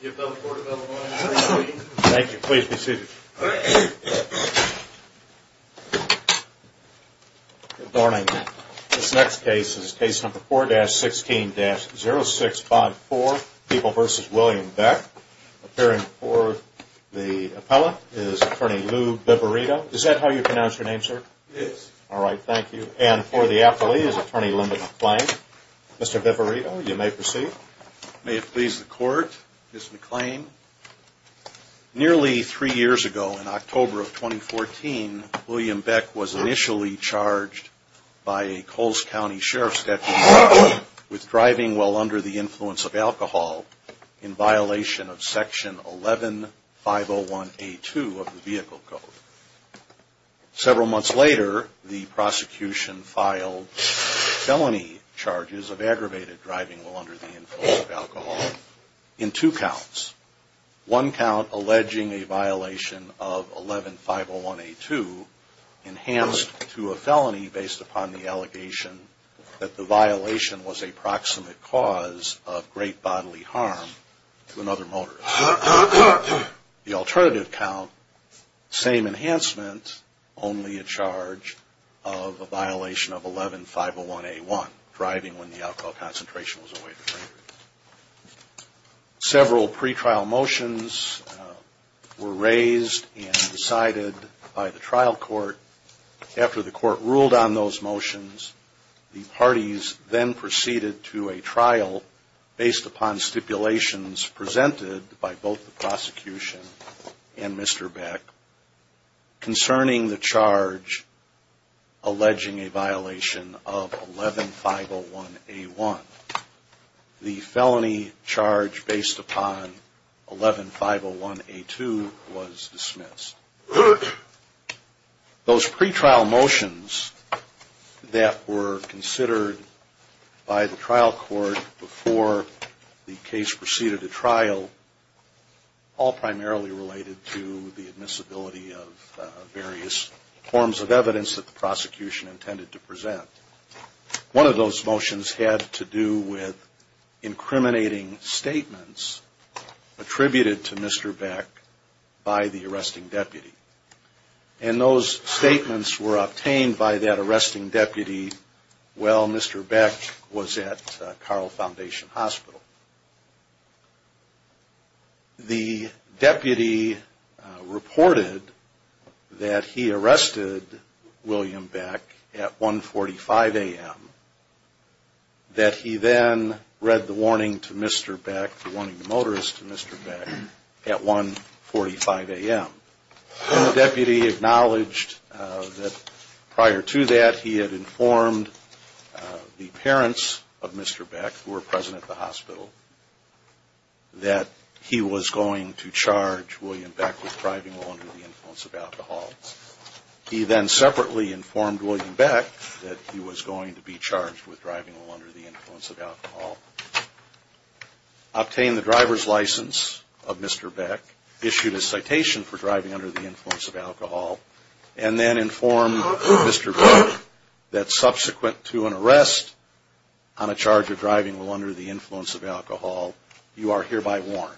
Good morning. This next case is case number 4-16-0654, People v. William Beck. Appearing for the appellant is Attorney Lou Biverito. Is that how you pronounce your name, sir? Yes. All right, thank you. And for the appellee is Attorney Linda McClain. Mr. Biverito, you may proceed. May it please the court, Ms. McClain. Nearly three years ago, in October of 2014, William Beck was initially charged by a Coles County Sheriff's statute with driving while under the influence of alcohol in violation of Section 11-501A2 of the Vehicle Code. Several months later, the prosecution filed felony charges of aggravated driving while under the influence of alcohol in two counts. One count alleging a violation of 11-501A2 enhanced to a felony based upon the allegation that the violation was a proximate cause of great bodily harm to another motorist. The alternative count, same enhancement, only a charge of a violation of 11-501A1, driving when the alcohol concentration was over the limit. Several pretrial motions were raised and decided by the trial court. After the court ruled on those motions, the parties then proceeded to a trial based upon stipulations presented by both the prosecution and Mr. Beck concerning the charge alleging a violation of 11-501A1. The felony charge based upon 11-501A2 was dismissed. Those pretrial motions that were considered by the trial court before the case proceeded to trial, all primarily related to the admissibility of various forms of evidence that the prosecution intended to present. One of those motions had to do with incriminating statements attributed to Mr. Beck by the arresting deputy. And those statements were obtained by that arresting deputy while Mr. Beck was at Carl Foundation Hospital. The deputy reported that he arrested William Beck at 1.45 a.m., that he then read the warning to Mr. Beck, the warning to motorists to Mr. Beck at 1.45 a.m. The deputy acknowledged that prior to that he had informed the parents of Mr. Beck, who were present at the hospital, that he was going to charge William Beck with driving while under the influence of alcohol. He then separately informed William Beck that he was going to be charged with driving while under the influence of alcohol, obtained the driver's license of Mr. Beck, issued a citation for driving under the influence of alcohol, and then informed Mr. Beck that subsequent to an arrest on a charge of driving while under the influence of alcohol, you are hereby warned.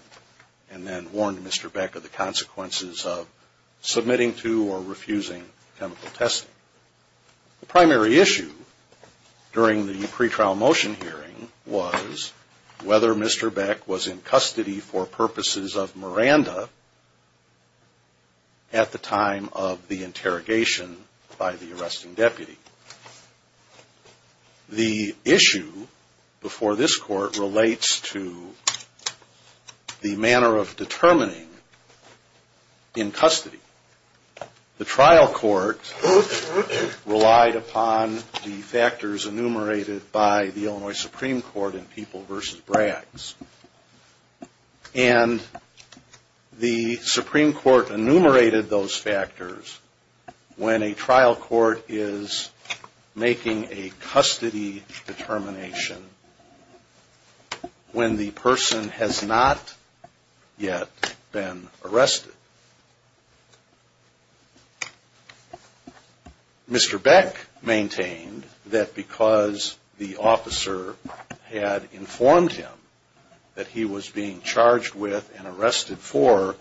And then warned Mr. Beck of the consequences of submitting to or refusing chemical testing. The primary issue during the pretrial motion hearing was whether Mr. Beck was in custody for purposes of Miranda at the time of the interrogation by the arresting deputy. The issue before this court relates to the manner of determining in custody. The trial court relied upon the factors enumerated by the Illinois Supreme Court in People v. Braggs. And the Supreme Court enumerated those factors when a trial court is making a custody determination when the person has not yet been arrested. Mr. Beck maintained that because the officer had informed him that he was being charged with and arrested for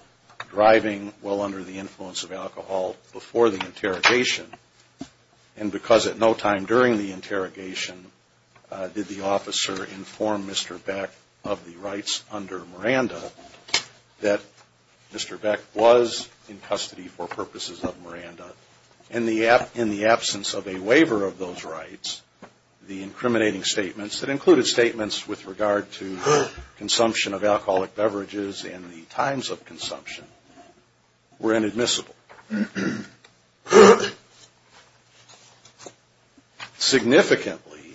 driving while under the influence of alcohol before the interrogation, and because at no time during the interrogation did the officer inform Mr. Beck of the rights under Miranda, that Mr. Beck was in custody. In the absence of a waiver of those rights, the incriminating statements that included statements with regard to consumption of alcoholic beverages and the times of consumption were inadmissible. Significantly,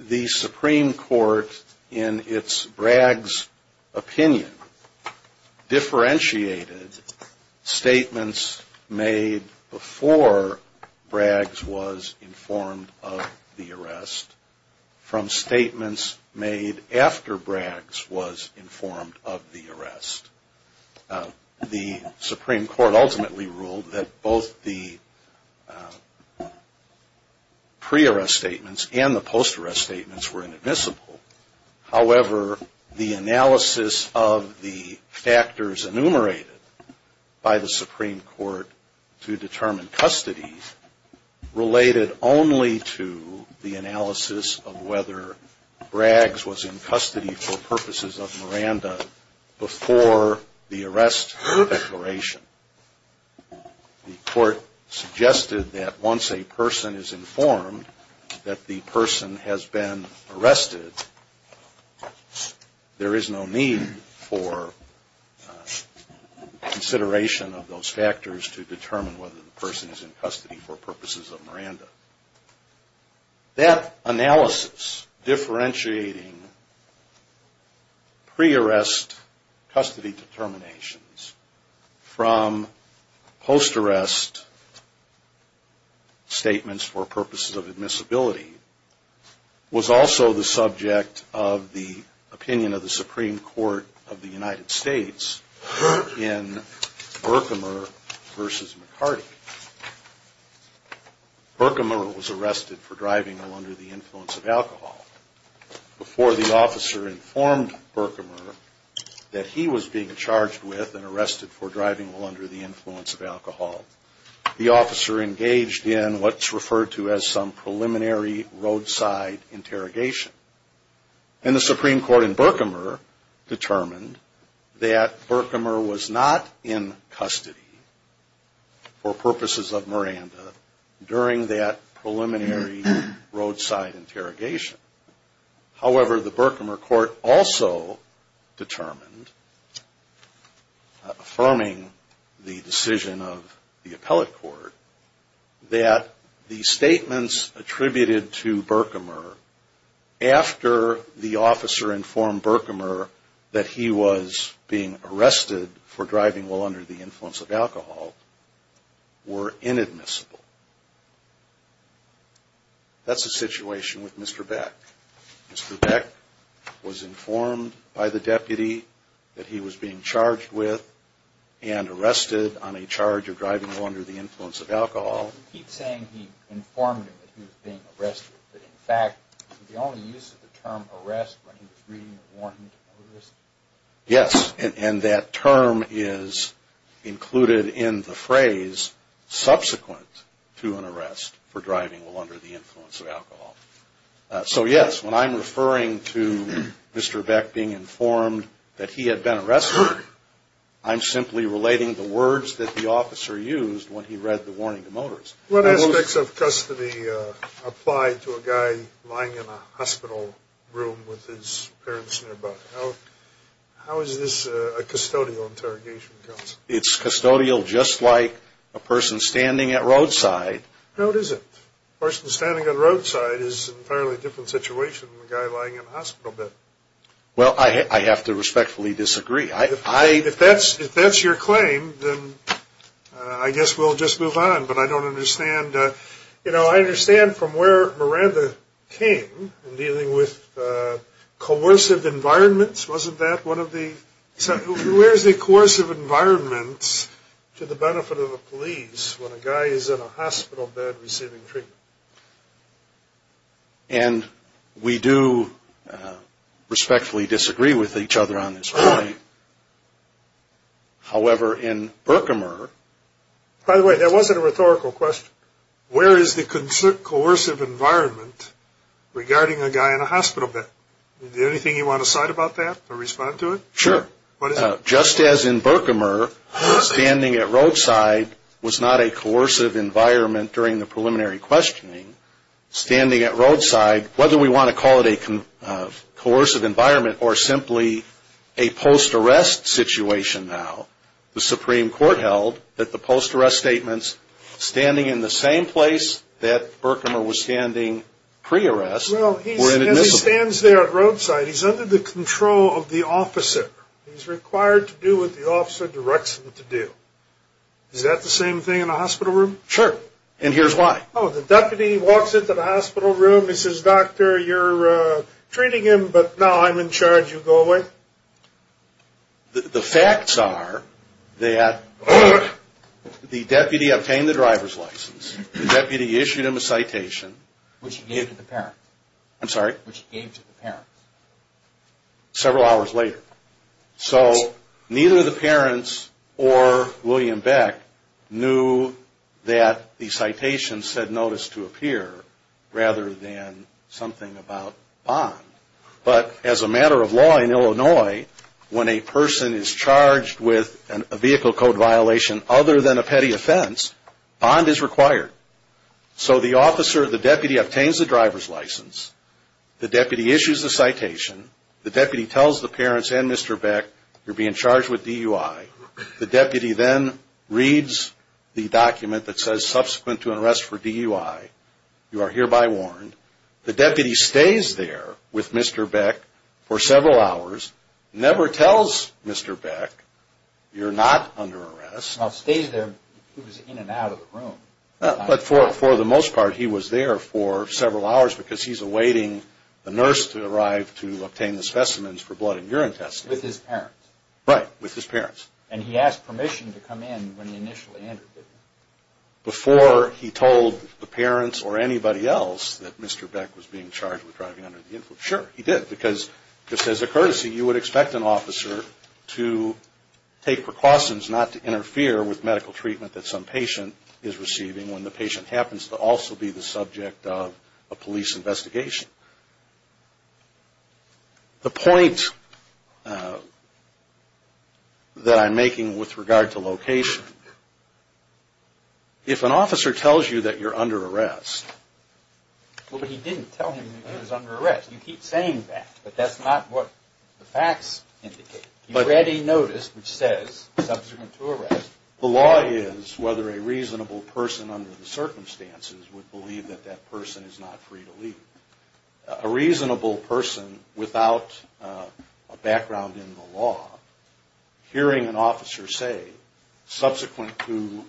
the Supreme Court in its Braggs opinion differentiated statements made before Braggs was informed of the arrest from statements made after Braggs was informed of the arrest. The Supreme Court ultimately ruled that both the pre-arrest statements and the post-arrest statements were inadmissible. However, the analysis of the factors enumerated by the Supreme Court to determine custody related only to the analysis of whether Braggs was in custody for purposes of Miranda before the arrest declaration. The court suggested that once a person is informed that the person has been arrested, there is no need for consideration of those factors to determine whether the person is in custody for purposes of Miranda. That analysis differentiating pre-arrest custody determinations from post-arrest statements for purposes of admissibility was also the subject of the opinion of the Supreme Court of the United States in Berkmer v. McCarty. Berkmer was arrested for driving under the influence of alcohol. Before the officer informed Berkmer that he was being charged with and arrested for driving under the influence of alcohol, the officer engaged in what's referred to as some preliminary roadside interrogation. And the Supreme Court in Berkmer determined that Berkmer was not in custody for purposes of Miranda during that preliminary roadside interrogation. However, the Berkmer court also determined, affirming the decision of the appellate court, that the statements attributed to Berkmer after the officer informed Berkmer that he was being arrested for driving while under the influence of alcohol were inadmissible. That's the situation with Mr. Beck. Mr. Beck was informed by the deputy that he was being charged with and arrested on a charge of driving while under the influence of alcohol. Yes, and that term is included in the phrase subsequent to an arrest for driving while under the influence of alcohol. So yes, when I'm referring to Mr. Beck being informed that he had been arrested, I'm simply relating the words that the officer used when he read the warning to Motors. What aspects of custody apply to a guy lying in a hospital room with his parents nearby? How is this a custodial interrogation, counsel? It's custodial just like a person standing at roadside. A person standing at roadside is an entirely different situation than a guy lying in a hospital bed. Well, I have to respectfully disagree. If that's your claim, then I guess we'll just move on. But I don't understand. You know, I understand from where Miranda came in dealing with coercive environments. Wasn't that one of the – where is the coercive environment to the benefit of the police when a guy is in a hospital bed receiving treatment? And we do respectfully disagree with each other on this point. However, in Berkimer – By the way, that wasn't a rhetorical question. Where is the coercive environment regarding a guy in a hospital bed? Is there anything you want to cite about that or respond to it? Sure. What is it? Just as in Berkimer, standing at roadside was not a coercive environment during the preliminary questioning. Standing at roadside, whether we want to call it a coercive environment or simply a post-arrest situation now, the Supreme Court held that the post-arrest statements standing in the same place that Berkimer was standing pre-arrest were inadmissible. Well, as he stands there at roadside, he's under the control of the officer. He's required to do what the officer directs him to do. Is that the same thing in a hospital room? Sure, and here's why. Oh, the deputy walks into the hospital room. He says, Doctor, you're treating him, but now I'm in charge. You go away. The facts are that the deputy obtained the driver's license. The deputy issued him a citation. Which he gave to the parents. I'm sorry? Which he gave to the parents. Several hours later. So neither the parents or William Beck knew that the citation said notice to appear rather than something about bond. But as a matter of law in Illinois, when a person is charged with a vehicle code violation other than a petty offense, bond is required. So the officer, the deputy, obtains the driver's license. The deputy issues the citation. The deputy tells the parents and Mr. Beck, you're being charged with DUI. The deputy then reads the document that says subsequent to an arrest for DUI, you are hereby warned. The deputy stays there with Mr. Beck for several hours, never tells Mr. Beck, you're not under arrest. Well, stays there, he was in and out of the room. But for the most part, he was there for several hours because he's awaiting the nurse to arrive to obtain the specimens for blood and urine testing. With his parents. Right. With his parents. And he asked permission to come in when he initially entered. Before he told the parents or anybody else that Mr. Beck was being charged with driving under the influence. Sure, he did. Because just as a courtesy, you would expect an officer to take precautions not to interfere with medical treatment that some patient is receiving when the patient happens to also be the subject of a police investigation. The point that I'm making with regard to location, if an officer tells you that you're under arrest. Well, but he didn't tell him that he was under arrest. You keep saying that. But that's not what the facts indicate. You've already noticed which says subsequent to arrest. The law is whether a reasonable person under the circumstances would believe that that person is not free to leave. A reasonable person without a background in the law, hearing an officer say subsequent to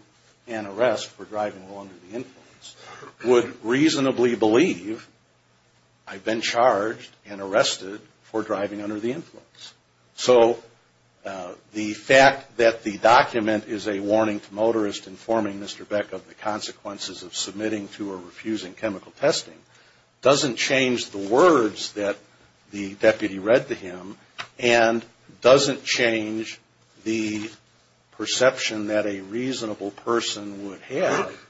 an arrest for driving under the influence would reasonably believe I've been charged and arrested for driving under the influence. So the fact that the document is a warning to motorists informing Mr. Beck of the consequences of submitting to or refusing chemical testing doesn't change the words that the deputy read to him and doesn't change the perception that a reasonable person would have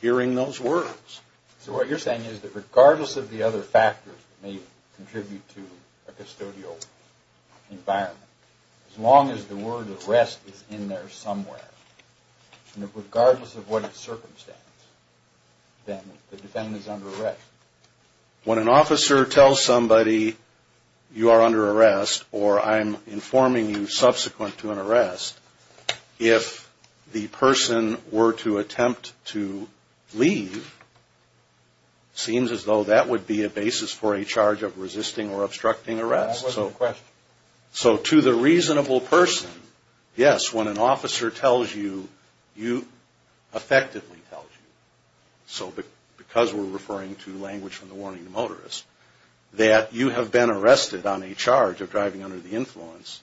hearing those words. So what you're saying is that regardless of the other factors that may contribute to a custodial environment, as long as the word arrest is in there somewhere, regardless of what its circumstance, then the defendant is under arrest. When an officer tells somebody you are under arrest or I'm informing you subsequent to an arrest, if the person were to attempt to leave, it seems as though that would be a basis for a charge of resisting or obstructing arrest. So to the reasonable person, yes, when an officer tells you, you effectively tell him. So because we're referring to language from the warning to motorists, that you have been arrested on a charge of driving under the influence,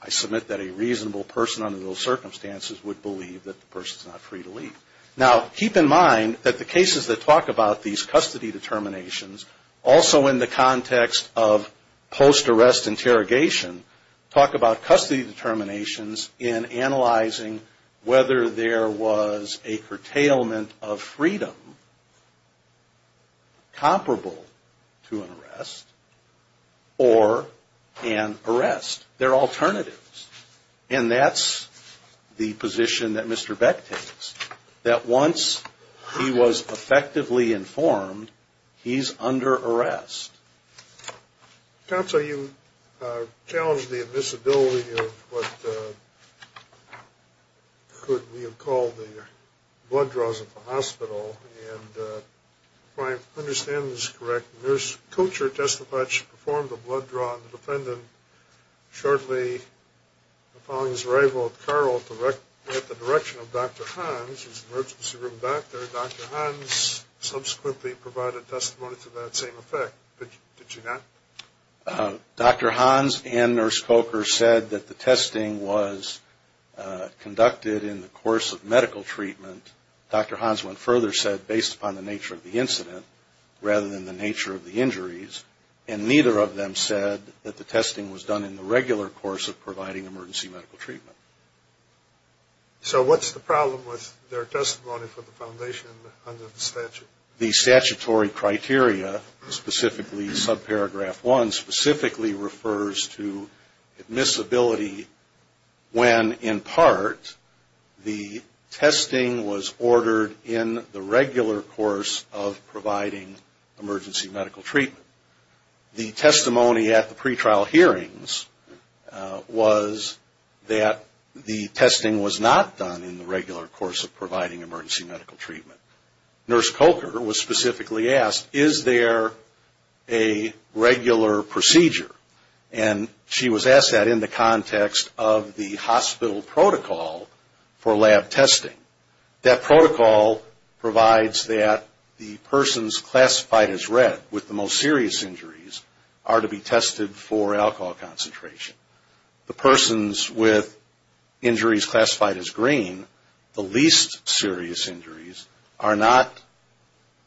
I submit that a reasonable person under those circumstances would believe that the person's not free to leave. Now, keep in mind that the cases that talk about these custody determinations, also in the context of post-arrest interrogation, talk about custody determinations in analyzing whether there was a curtailment of freedom comparable to an arrest or an arrest. They're alternatives. And that's the position that Mr. Beck takes, that once he was effectively informed, he's under arrest. Counsel, you challenged the admissibility of what could be called the blood draws of the hospital. And if I understand this correct, the nurse coach or testifaction performed a blood draw on the defendant shortly following his arrival at the direction of Dr. Hans, who's an emergency room doctor. Dr. Hans subsequently provided testimony to that same effect. Did you not? Dr. Hans and Nurse Coker said that the testing was conducted in the course of medical treatment. Dr. Hans went further, said based upon the nature of the incident rather than the nature of the injuries. And neither of them said that the testing was done in the regular course of providing emergency medical treatment. So what's the problem with their testimony for the foundation under the statute? The statutory criteria, specifically subparagraph one, specifically refers to admissibility when, in part, the testing was ordered in the regular course of providing emergency medical treatment. The testimony at the pretrial hearings was that the testing was not done in the regular course of providing emergency medical treatment. Nurse Coker was specifically asked, is there a regular procedure? And she was asked that in the context of the hospital protocol for lab testing. That protocol provides that the persons classified as red with the most serious injuries are to be tested for alcohol concentration. The persons with injuries classified as green, the least serious injuries, are not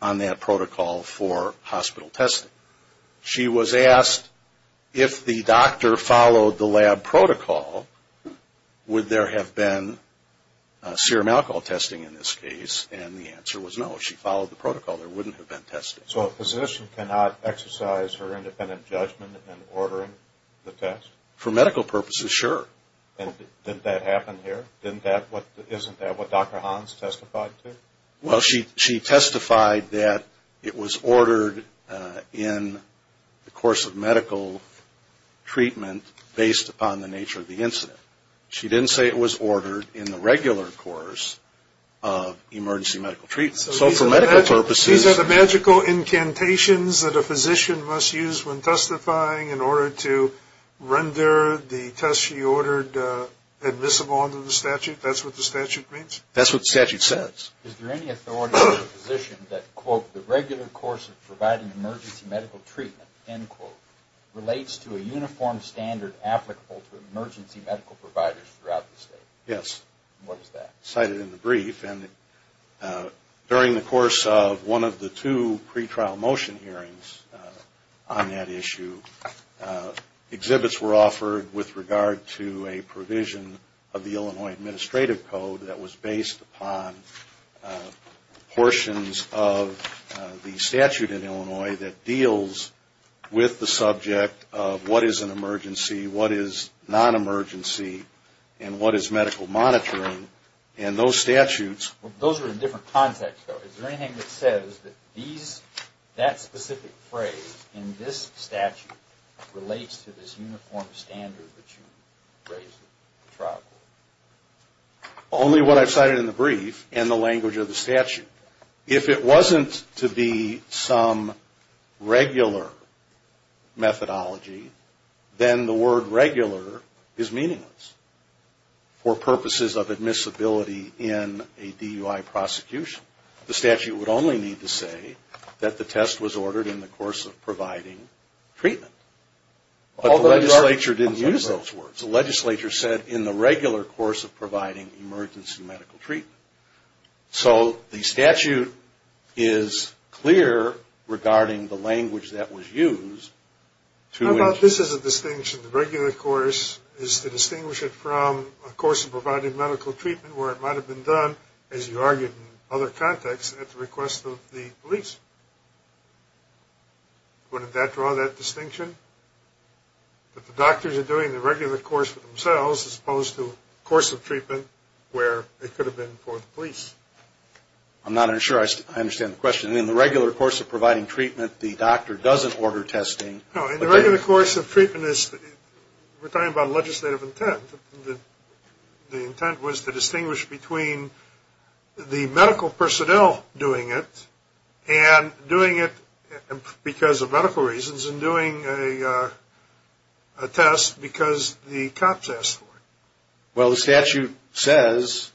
on that protocol for hospital testing. She was asked if the doctor followed the lab protocol, would there have been serum alcohol testing in this case? And the answer was no. She followed the protocol. There wouldn't have been testing. So a physician cannot exercise her independent judgment in ordering the test? For medical purposes, sure. And didn't that happen here? Isn't that what Dr. Hans testified to? Well, she testified that it was ordered in the course of medical treatment based upon the nature of the incident. She didn't say it was ordered in the regular course of emergency medical treatment. So for medical purposes… So these are the magical incantations that a physician must use when testifying in order to render the test she ordered admissible under the statute? That's what the statute means? That's what the statute says. Is there any authority for a physician that, quote, the regular course of providing emergency medical treatment, end quote, relates to a uniform standard applicable to emergency medical providers throughout the state? Yes. What is that? Cited in the brief. And during the course of one of the two pretrial motion hearings on that issue, exhibits were offered with regard to a provision of the Illinois Administrative Code that was based upon portions of the statute in Illinois that deals with the subject of what is an emergency, what is non-emergency, and what is medical monitoring. And those statutes… Those are in different contexts, though. Is there anything that says that that specific phrase in this statute relates to this uniform standard that you raised in the trial court? Only what I've cited in the brief and the language of the statute. If it wasn't to be some regular methodology, then the word regular is meaningless for purposes of admissibility in a DUI prosecution. The statute would only need to say that the test was ordered in the course of providing treatment. But the legislature didn't use those words. The legislature said in the regular course of providing emergency medical treatment. So the statute is clear regarding the language that was used. How about this as a distinction? The regular course is to distinguish it from a course of providing medical treatment where it might have been done, as you argued in other contexts, at the request of the police. Wouldn't that draw that distinction? That the doctors are doing the regular course for themselves as opposed to a course of treatment where it could have been for the police. I'm not sure I understand the question. In the regular course of providing treatment, the doctor doesn't order testing. No, in the regular course of treatment, we're talking about legislative intent. The intent was to distinguish between the medical personnel doing it and doing it because of medical reasons and doing a test because the cops asked for it. Well, the statute says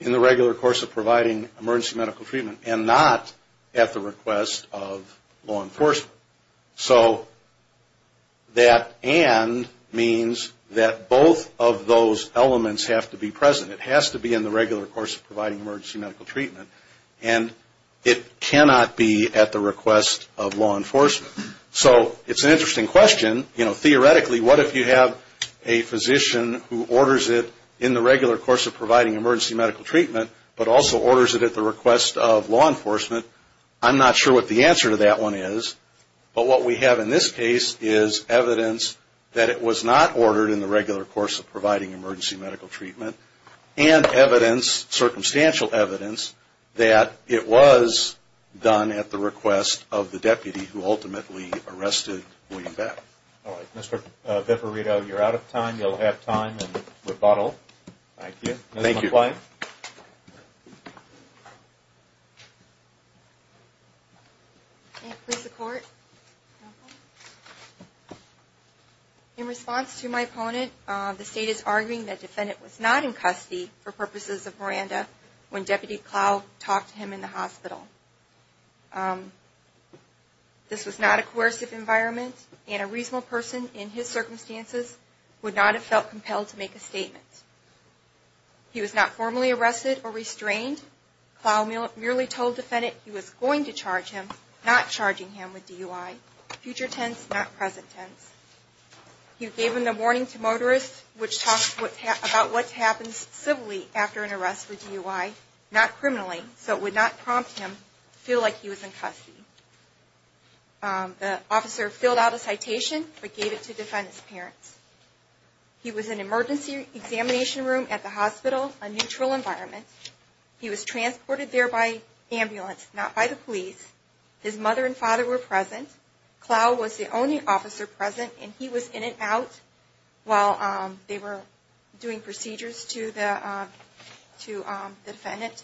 in the regular course of providing emergency medical treatment and not at the request of law enforcement. So that and means that both of those elements have to be present. It has to be in the regular course of providing emergency medical treatment. And it cannot be at the request of law enforcement. So it's an interesting question. Theoretically, what if you have a physician who orders it in the regular course of providing emergency medical treatment but also orders it at the request of law enforcement? I'm not sure what the answer to that one is. But what we have in this case is evidence that it was not ordered in the regular course of providing emergency medical treatment and evidence, circumstantial evidence, that it was done at the request of the deputy who ultimately arrested William Beck. All right. Mr. Veparito, you're out of time. You'll have time and rebuttal. Thank you. Thank you. Ms. Klein. Thank you, Mr. Court. In response to my opponent, the State is arguing that the defendant was not in custody for purposes of Miranda when Deputy Clough talked to him in the hospital. This was not a coercive environment, and a reasonable person in his circumstances would not have felt compelled to make a statement. He was not formally arrested or restrained. Clough merely told the defendant he was going to charge him, not charging him with DUI. Future tense, not present tense. He gave him the warning to motorists, which talks about what happens civilly after an arrest with DUI, not criminally, so it would not prompt him to feel like he was in custody. The officer filled out a citation but gave it to defendant's parents. He was in emergency examination room at the hospital, a neutral environment. He was transported there by ambulance, not by the police. His mother and father were present. Clough was the only officer present, and he was in and out while they were doing procedures to the defendant.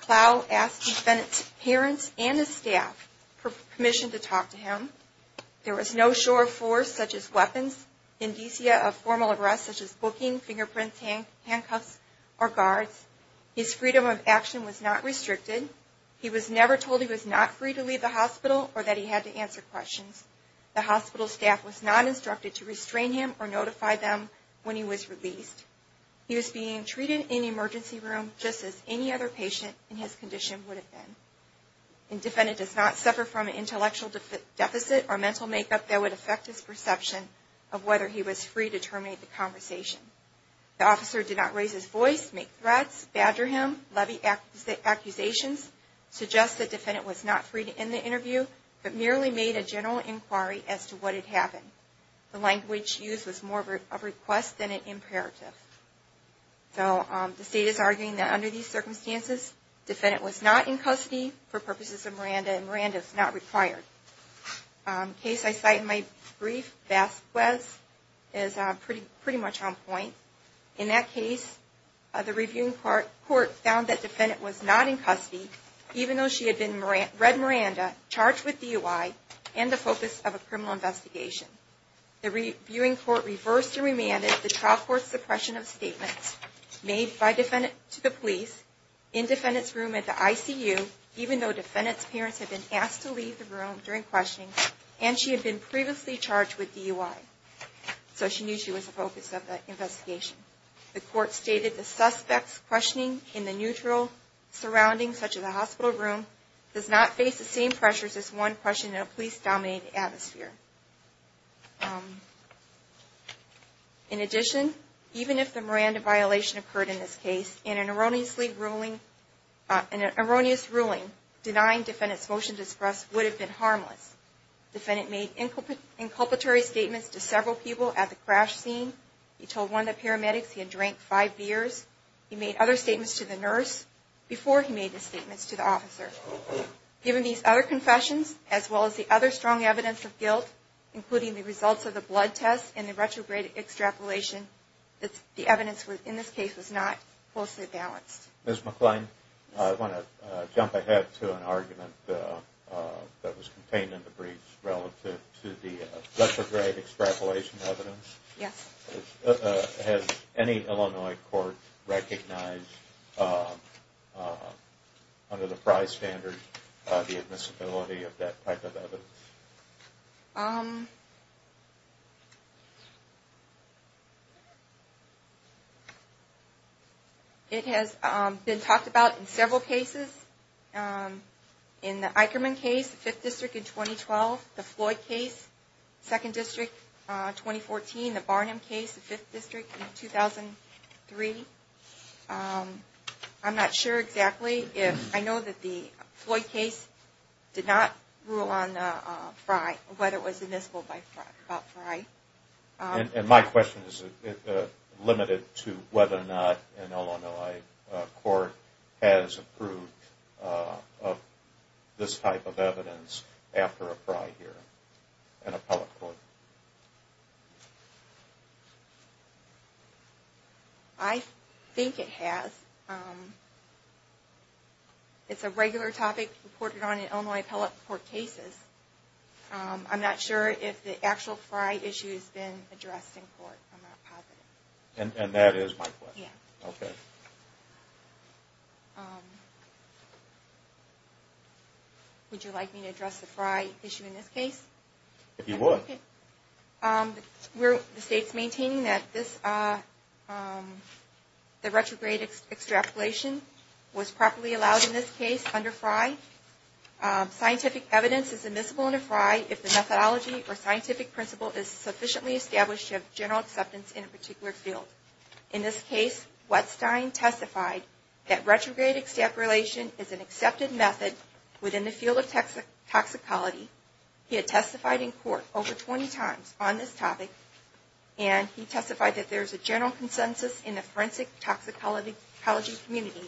Clough asked defendant's parents and his staff for permission to talk to him. There was no sure force, such as weapons, indicia of formal arrest, such as booking, fingerprints, handcuffs, or guards. His freedom of action was not restricted. He was never told he was not free to leave the hospital or that he had to answer questions. The hospital staff was not instructed to restrain him or notify them when he was released. He was being treated in the emergency room just as any other patient in his condition would have been. Defendant does not suffer from an intellectual deficit or mental makeup that would affect his perception of whether he was free to terminate the conversation. The officer did not raise his voice, make threats, badger him, levy accusations, suggest the defendant was not free to end the interview, but merely made a general inquiry as to what had happened. The language used was more of a request than an imperative. So the state is arguing that under these circumstances, defendant was not in custody for purposes of Miranda and Miranda is not required. Case I cite in my brief, Vasquez, is pretty much on point. In that case, the reviewing court found that defendant was not in custody even though she had read Miranda, charged with DUI, and the focus of a criminal investigation. The reviewing court reversed and remanded the trial court's suppression of statements made to the police in defendant's room at the ICU, even though defendant's parents had been asked to leave the room during questioning and she had been previously charged with DUI. So she knew she was the focus of the investigation. The court stated the suspect's questioning in the neutral surroundings, such as the hospital room, does not face the same pressures as one questioning in a police-dominated atmosphere. In addition, even if the Miranda violation occurred in this case, an erroneous ruling denying defendant's motion to express would have been harmless. Defendant made inculpatory statements to several people at the crash scene. He told one of the paramedics he had drank five beers. He made other statements to the nurse before he made his statements to the officer. Given these other confessions, as well as the other strong evidence of guilt, including the results of the blood test and the retrograde extrapolation, the evidence in this case was not closely balanced. Ms. McClain, I want to jump ahead to an argument that was contained in the brief relative to the retrograde extrapolation evidence. Yes. Has any Illinois court recognized under the Frye standard the admissibility of that type of evidence? It has been talked about in several cases. In the Eichermann case, the 5th District in 2012, the Floyd case, the 2nd District in 2014, the Barnum case, the 5th District in 2003. I'm not sure exactly. I know that the Floyd case did not rule on Frye, or whether it was admissible by Frye. My question is limited to whether or not an Illinois court has approved this type of evidence after a Frye hearing, an appellate court. I think it has. It's a regular topic reported on in Illinois appellate court cases. I'm not sure if the actual Frye issue has been addressed in court. And that is my question. Would you like me to address the Frye issue in this case? We're maintaining that the retrograde extrapolation was properly allowed in this case under Frye. Scientific evidence is admissible under Frye if the methodology or scientific principle is sufficiently established to have general acceptance in a particular field. In this case, Wettstein testified that retrograde extrapolation is an accepted method within the field of toxicology. He had testified in court over 20 times on this topic, and he testified that there is a general consensus in the forensic toxicology community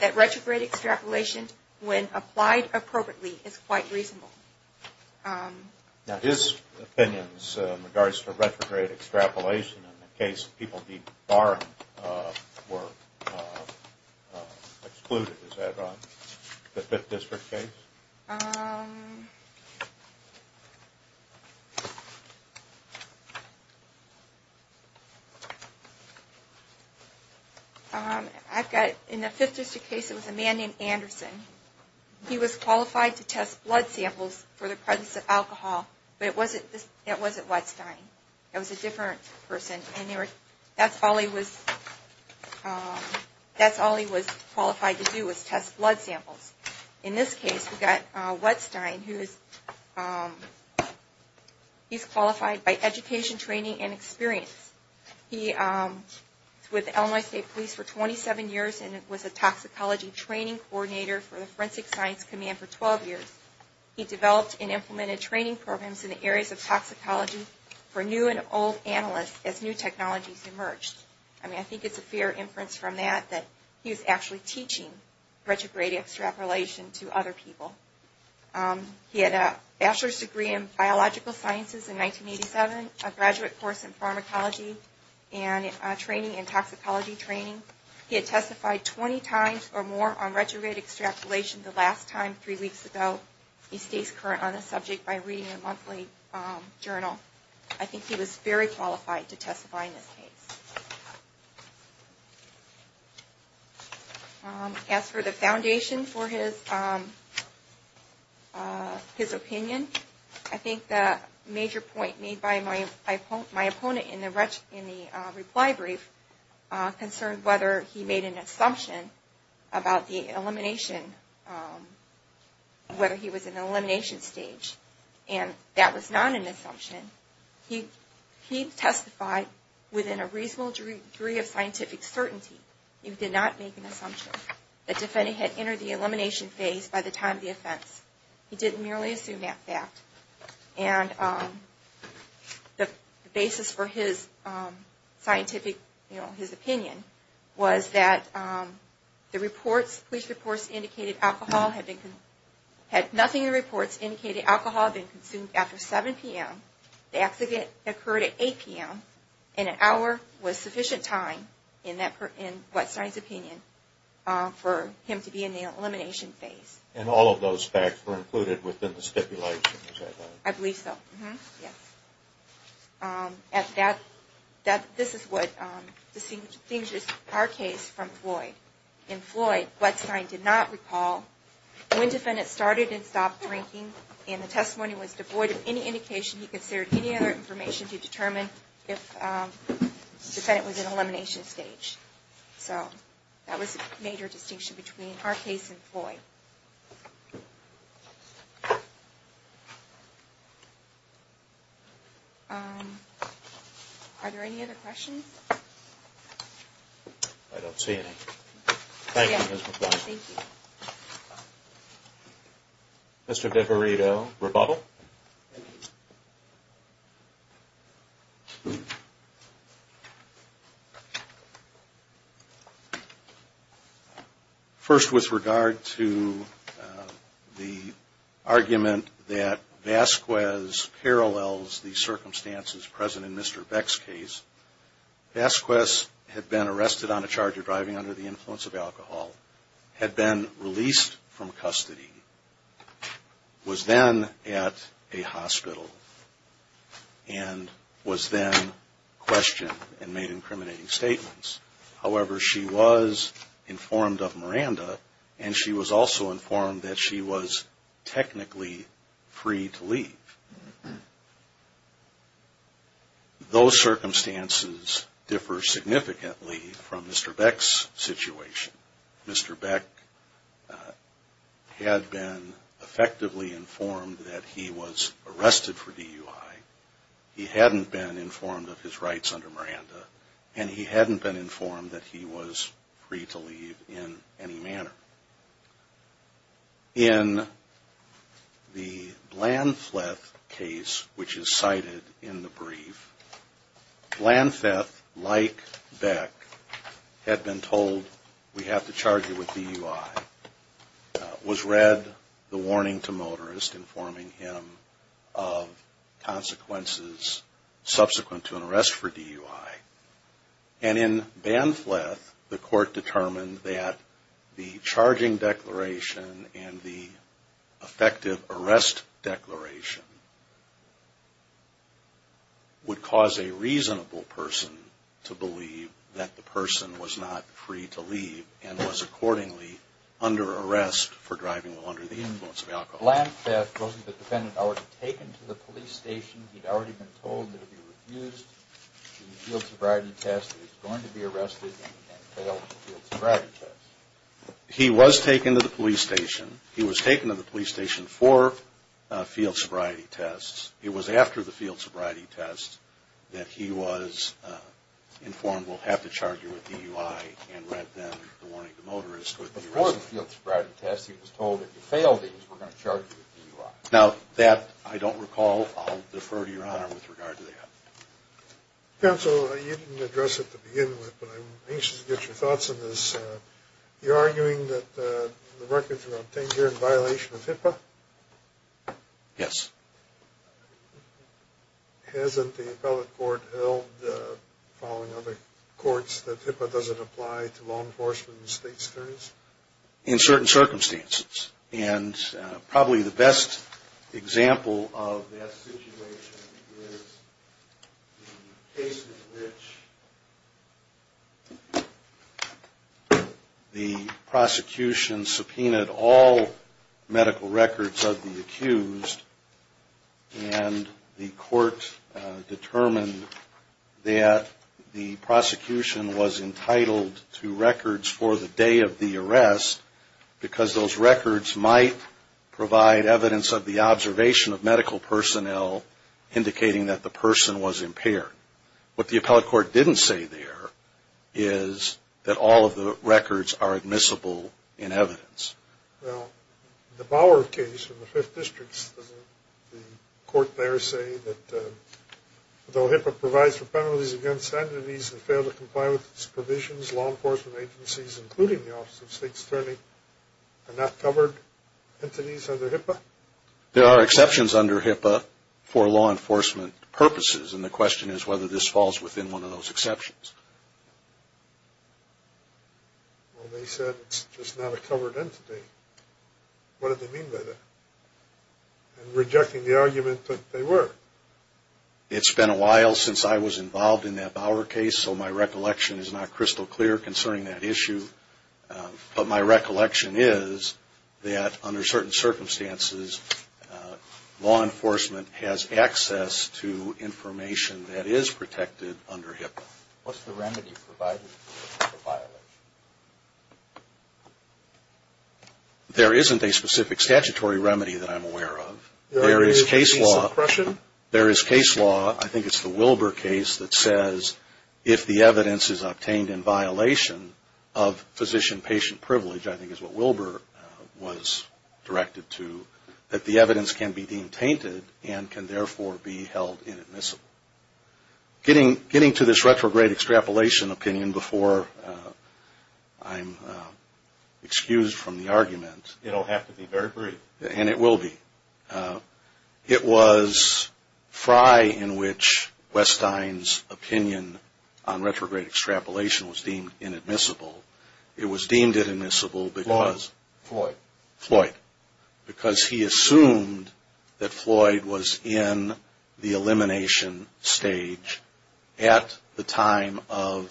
that retrograde extrapolation, when applied appropriately, is quite reasonable. Now his opinions in regards to retrograde extrapolation in the case of the Barnum were excluded. Is that on the 5th District case? I've got it. In the 5th District case, it was a man named Anderson. He was qualified to test blood samples for the presence of alcohol, but it wasn't Wettstein. It was a different person, and that's all he was qualified to do was test blood samples. In this case, we've got Wettstein. He's qualified by education, training, and experience. He was with Illinois State Police for 27 years and was a toxicology training coordinator for the Forensic Science Command for 12 years. He developed and implemented training programs in the areas of toxicology for new and old analysts as new technologies emerged. I mean, I think it's a fair inference from that that he was actually teaching retrograde extrapolation to other people. He had a bachelor's degree in biological sciences in 1987, a graduate course in pharmacology and training in toxicology training. He had testified 20 times or more on retrograde extrapolation the last time three weeks ago. He stays current on this subject by reading a monthly journal. I think he was very qualified to testify in this case. As for the foundation for his opinion, I think the major point made by my opponent in the reply brief, concerned whether he made an assumption about the elimination, whether he was in the elimination stage. And that was not an assumption. He testified within a reasonable degree of scientific certainty. He did not make an assumption that the defendant had entered the elimination phase by the time of the offense. He didn't merely assume that fact. His opinion was that the police reports indicated alcohol had been consumed after 7 p.m. The accident occurred at 8 p.m. and an hour was sufficient time, in Wettstein's opinion, for him to be in the elimination phase. And all of those facts were included within the stipulation, is that right? I believe so. This is what distinguishes our case from Floyd. In Floyd, Wettstein did not recall when the defendant started and stopped drinking and the testimony was devoid of any indication he considered any other information to determine if the defendant was in the elimination stage. So that was the major distinction between our case and Floyd. Are there any other questions? I don't see any. Thank you, Ms. McBride. Mr. Devorito, rebuttal? First, with regard to the argument that Vasquez parallels the circumstances present in Mr. Beck's case, Vasquez had been arrested on a charge of driving under the influence of alcohol, had been released from custody, was then at a hospital, and was then questioned and made incriminating statements. However, she was informed of Miranda, and she was also informed that she was technically free to leave. Those circumstances differ significantly from Mr. Beck's situation. Mr. Beck had been effectively informed that he was in the elimination stage. In the case of Blanfleth, which is cited in the brief, Blanfleth, like Beck, had been told, we have to charge you with DUI, was read the warning to motorist, informing him that he was free to leave. And in Blanfleth, the court determined that the charging declaration and the effective arrest declaration would cause a reasonable person to believe that the person was not free to leave and was accordingly under arrest for driving under the influence of alcohol. He was taken to the police station. He'd already been told that if he refused the field sobriety test that he was going to be arrested and failed the field sobriety test. He was taken to the police station. He was taken to the police station for field sobriety tests. It was after the field sobriety test that he was informed, we'll have to charge you with DUI, and read then the warning to motorist. Before the field sobriety test, he was told, if you fail these, we're going to charge you with DUI. Now, that I don't recall. I'll defer to Your Honor with regard to that. Counsel, you didn't address it to begin with, but I'm anxious to get your thoughts on this. You're arguing that the records were obtained here in violation of HIPAA? Yes. Hasn't the appellate court held, following other courts, that HIPAA doesn't apply to law enforcement and state attorneys? In certain circumstances. And probably the best example of that situation is the case in which the prosecution subpoenaed all medical records of the accused. And the court determined that the prosecution was entitled to records for the day of the arrest, because those records might provide evidence of the observation of medical personnel indicating that the person was impaired. What the appellate court didn't say there is that all of the records are admissible in evidence. Now, the Bauer case in the 5th District, doesn't the court there say that, though HIPAA provides for penalties against entities that fail to comply with its provisions, law enforcement agencies, including the Office of State Attorney, are not covered entities under HIPAA? There are exceptions under HIPAA for law enforcement purposes, and the question is whether this falls within one of those exceptions. Well, they said it's just not a covered entity. What did they mean by that? And rejecting the argument that they were. It's been a while since I was involved in that Bauer case, so my recollection is not crystal clear concerning that issue. But my recollection is that, under certain circumstances, law enforcement has access to information that is protected under HIPAA. What's the remedy provided for violation? There isn't a specific statutory remedy that I'm aware of. There is case law. I think it's the Wilbur case that says if the evidence is obtained in violation of physician-patient privilege, which I think is what Wilbur was directed to, that the evidence can be deemed tainted and can therefore be held inadmissible. Getting to this retrograde extrapolation opinion before I'm excused from the argument. It'll have to be very brief. And it will be. It was Fry in which Westine's opinion on retrograde extrapolation was deemed inadmissible. It was deemed inadmissible because. Floyd. Because he assumed that Floyd was in the elimination stage at the time of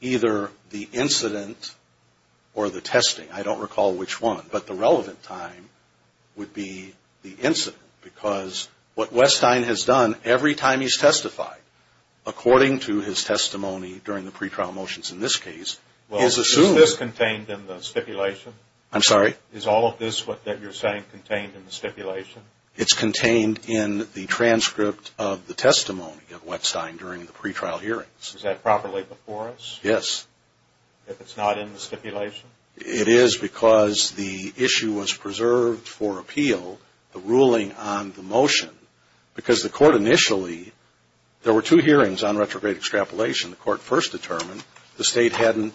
either the incident or the testing. I don't recall which one. But the relevant time would be the incident because what Westine has done every time he's testified, according to his testimony during the pretrial motions in this case, he's assumed. Is this contained in the stipulation? I'm sorry? Is all of this that you're saying contained in the stipulation? It's contained in the transcript of the testimony of Westine during the pretrial hearings. Is that properly before us? Yes. If it's not in the stipulation? It is because the issue was preserved for appeal, the ruling on the motion. Because the court initially, there were two hearings on retrograde extrapolation. The court first determined the state hadn't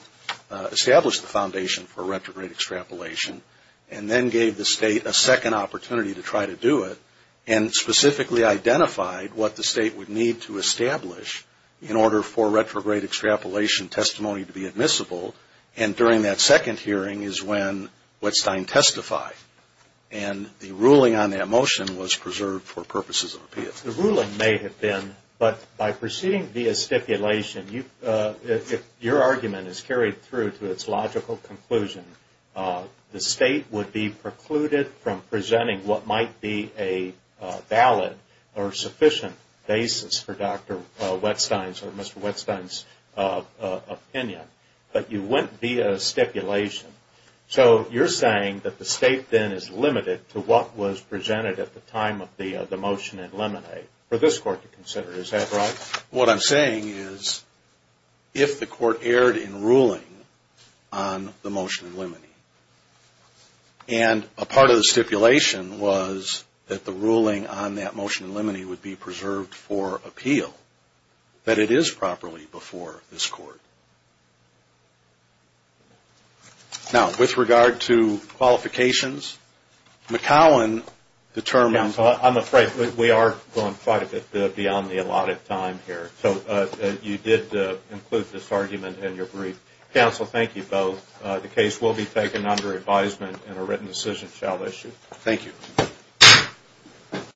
established the foundation for retrograde extrapolation. And then gave the state a second opportunity to try to do it. And specifically identified what the state would need to establish in order for retrograde extrapolation testimony to be admissible. And during that second hearing is when Westine testified. And the ruling on that motion was preserved for purposes of appeal. The ruling may have been, but by proceeding via stipulation, if your argument is carried through to its logical conclusion, the state would be precluded from presenting what might be a valid or sufficient basis for Dr. Westine's or Mr. Westine's opinion. But you went via stipulation. So you're saying that the state then is limited to what was presented at the time of the motion in limine. For this court to consider. Is that right? What I'm saying is if the court erred in ruling on the motion in limine. And a part of the stipulation was that the ruling on that motion in limine would be preserved for appeal. That it is properly before this court. Now with regard to qualifications. McCowan determined. I'm afraid we are going quite a bit beyond the allotted time here. You did include this argument in your brief. Counsel, thank you both. The case will be taken under advisement and a written decision shall issue.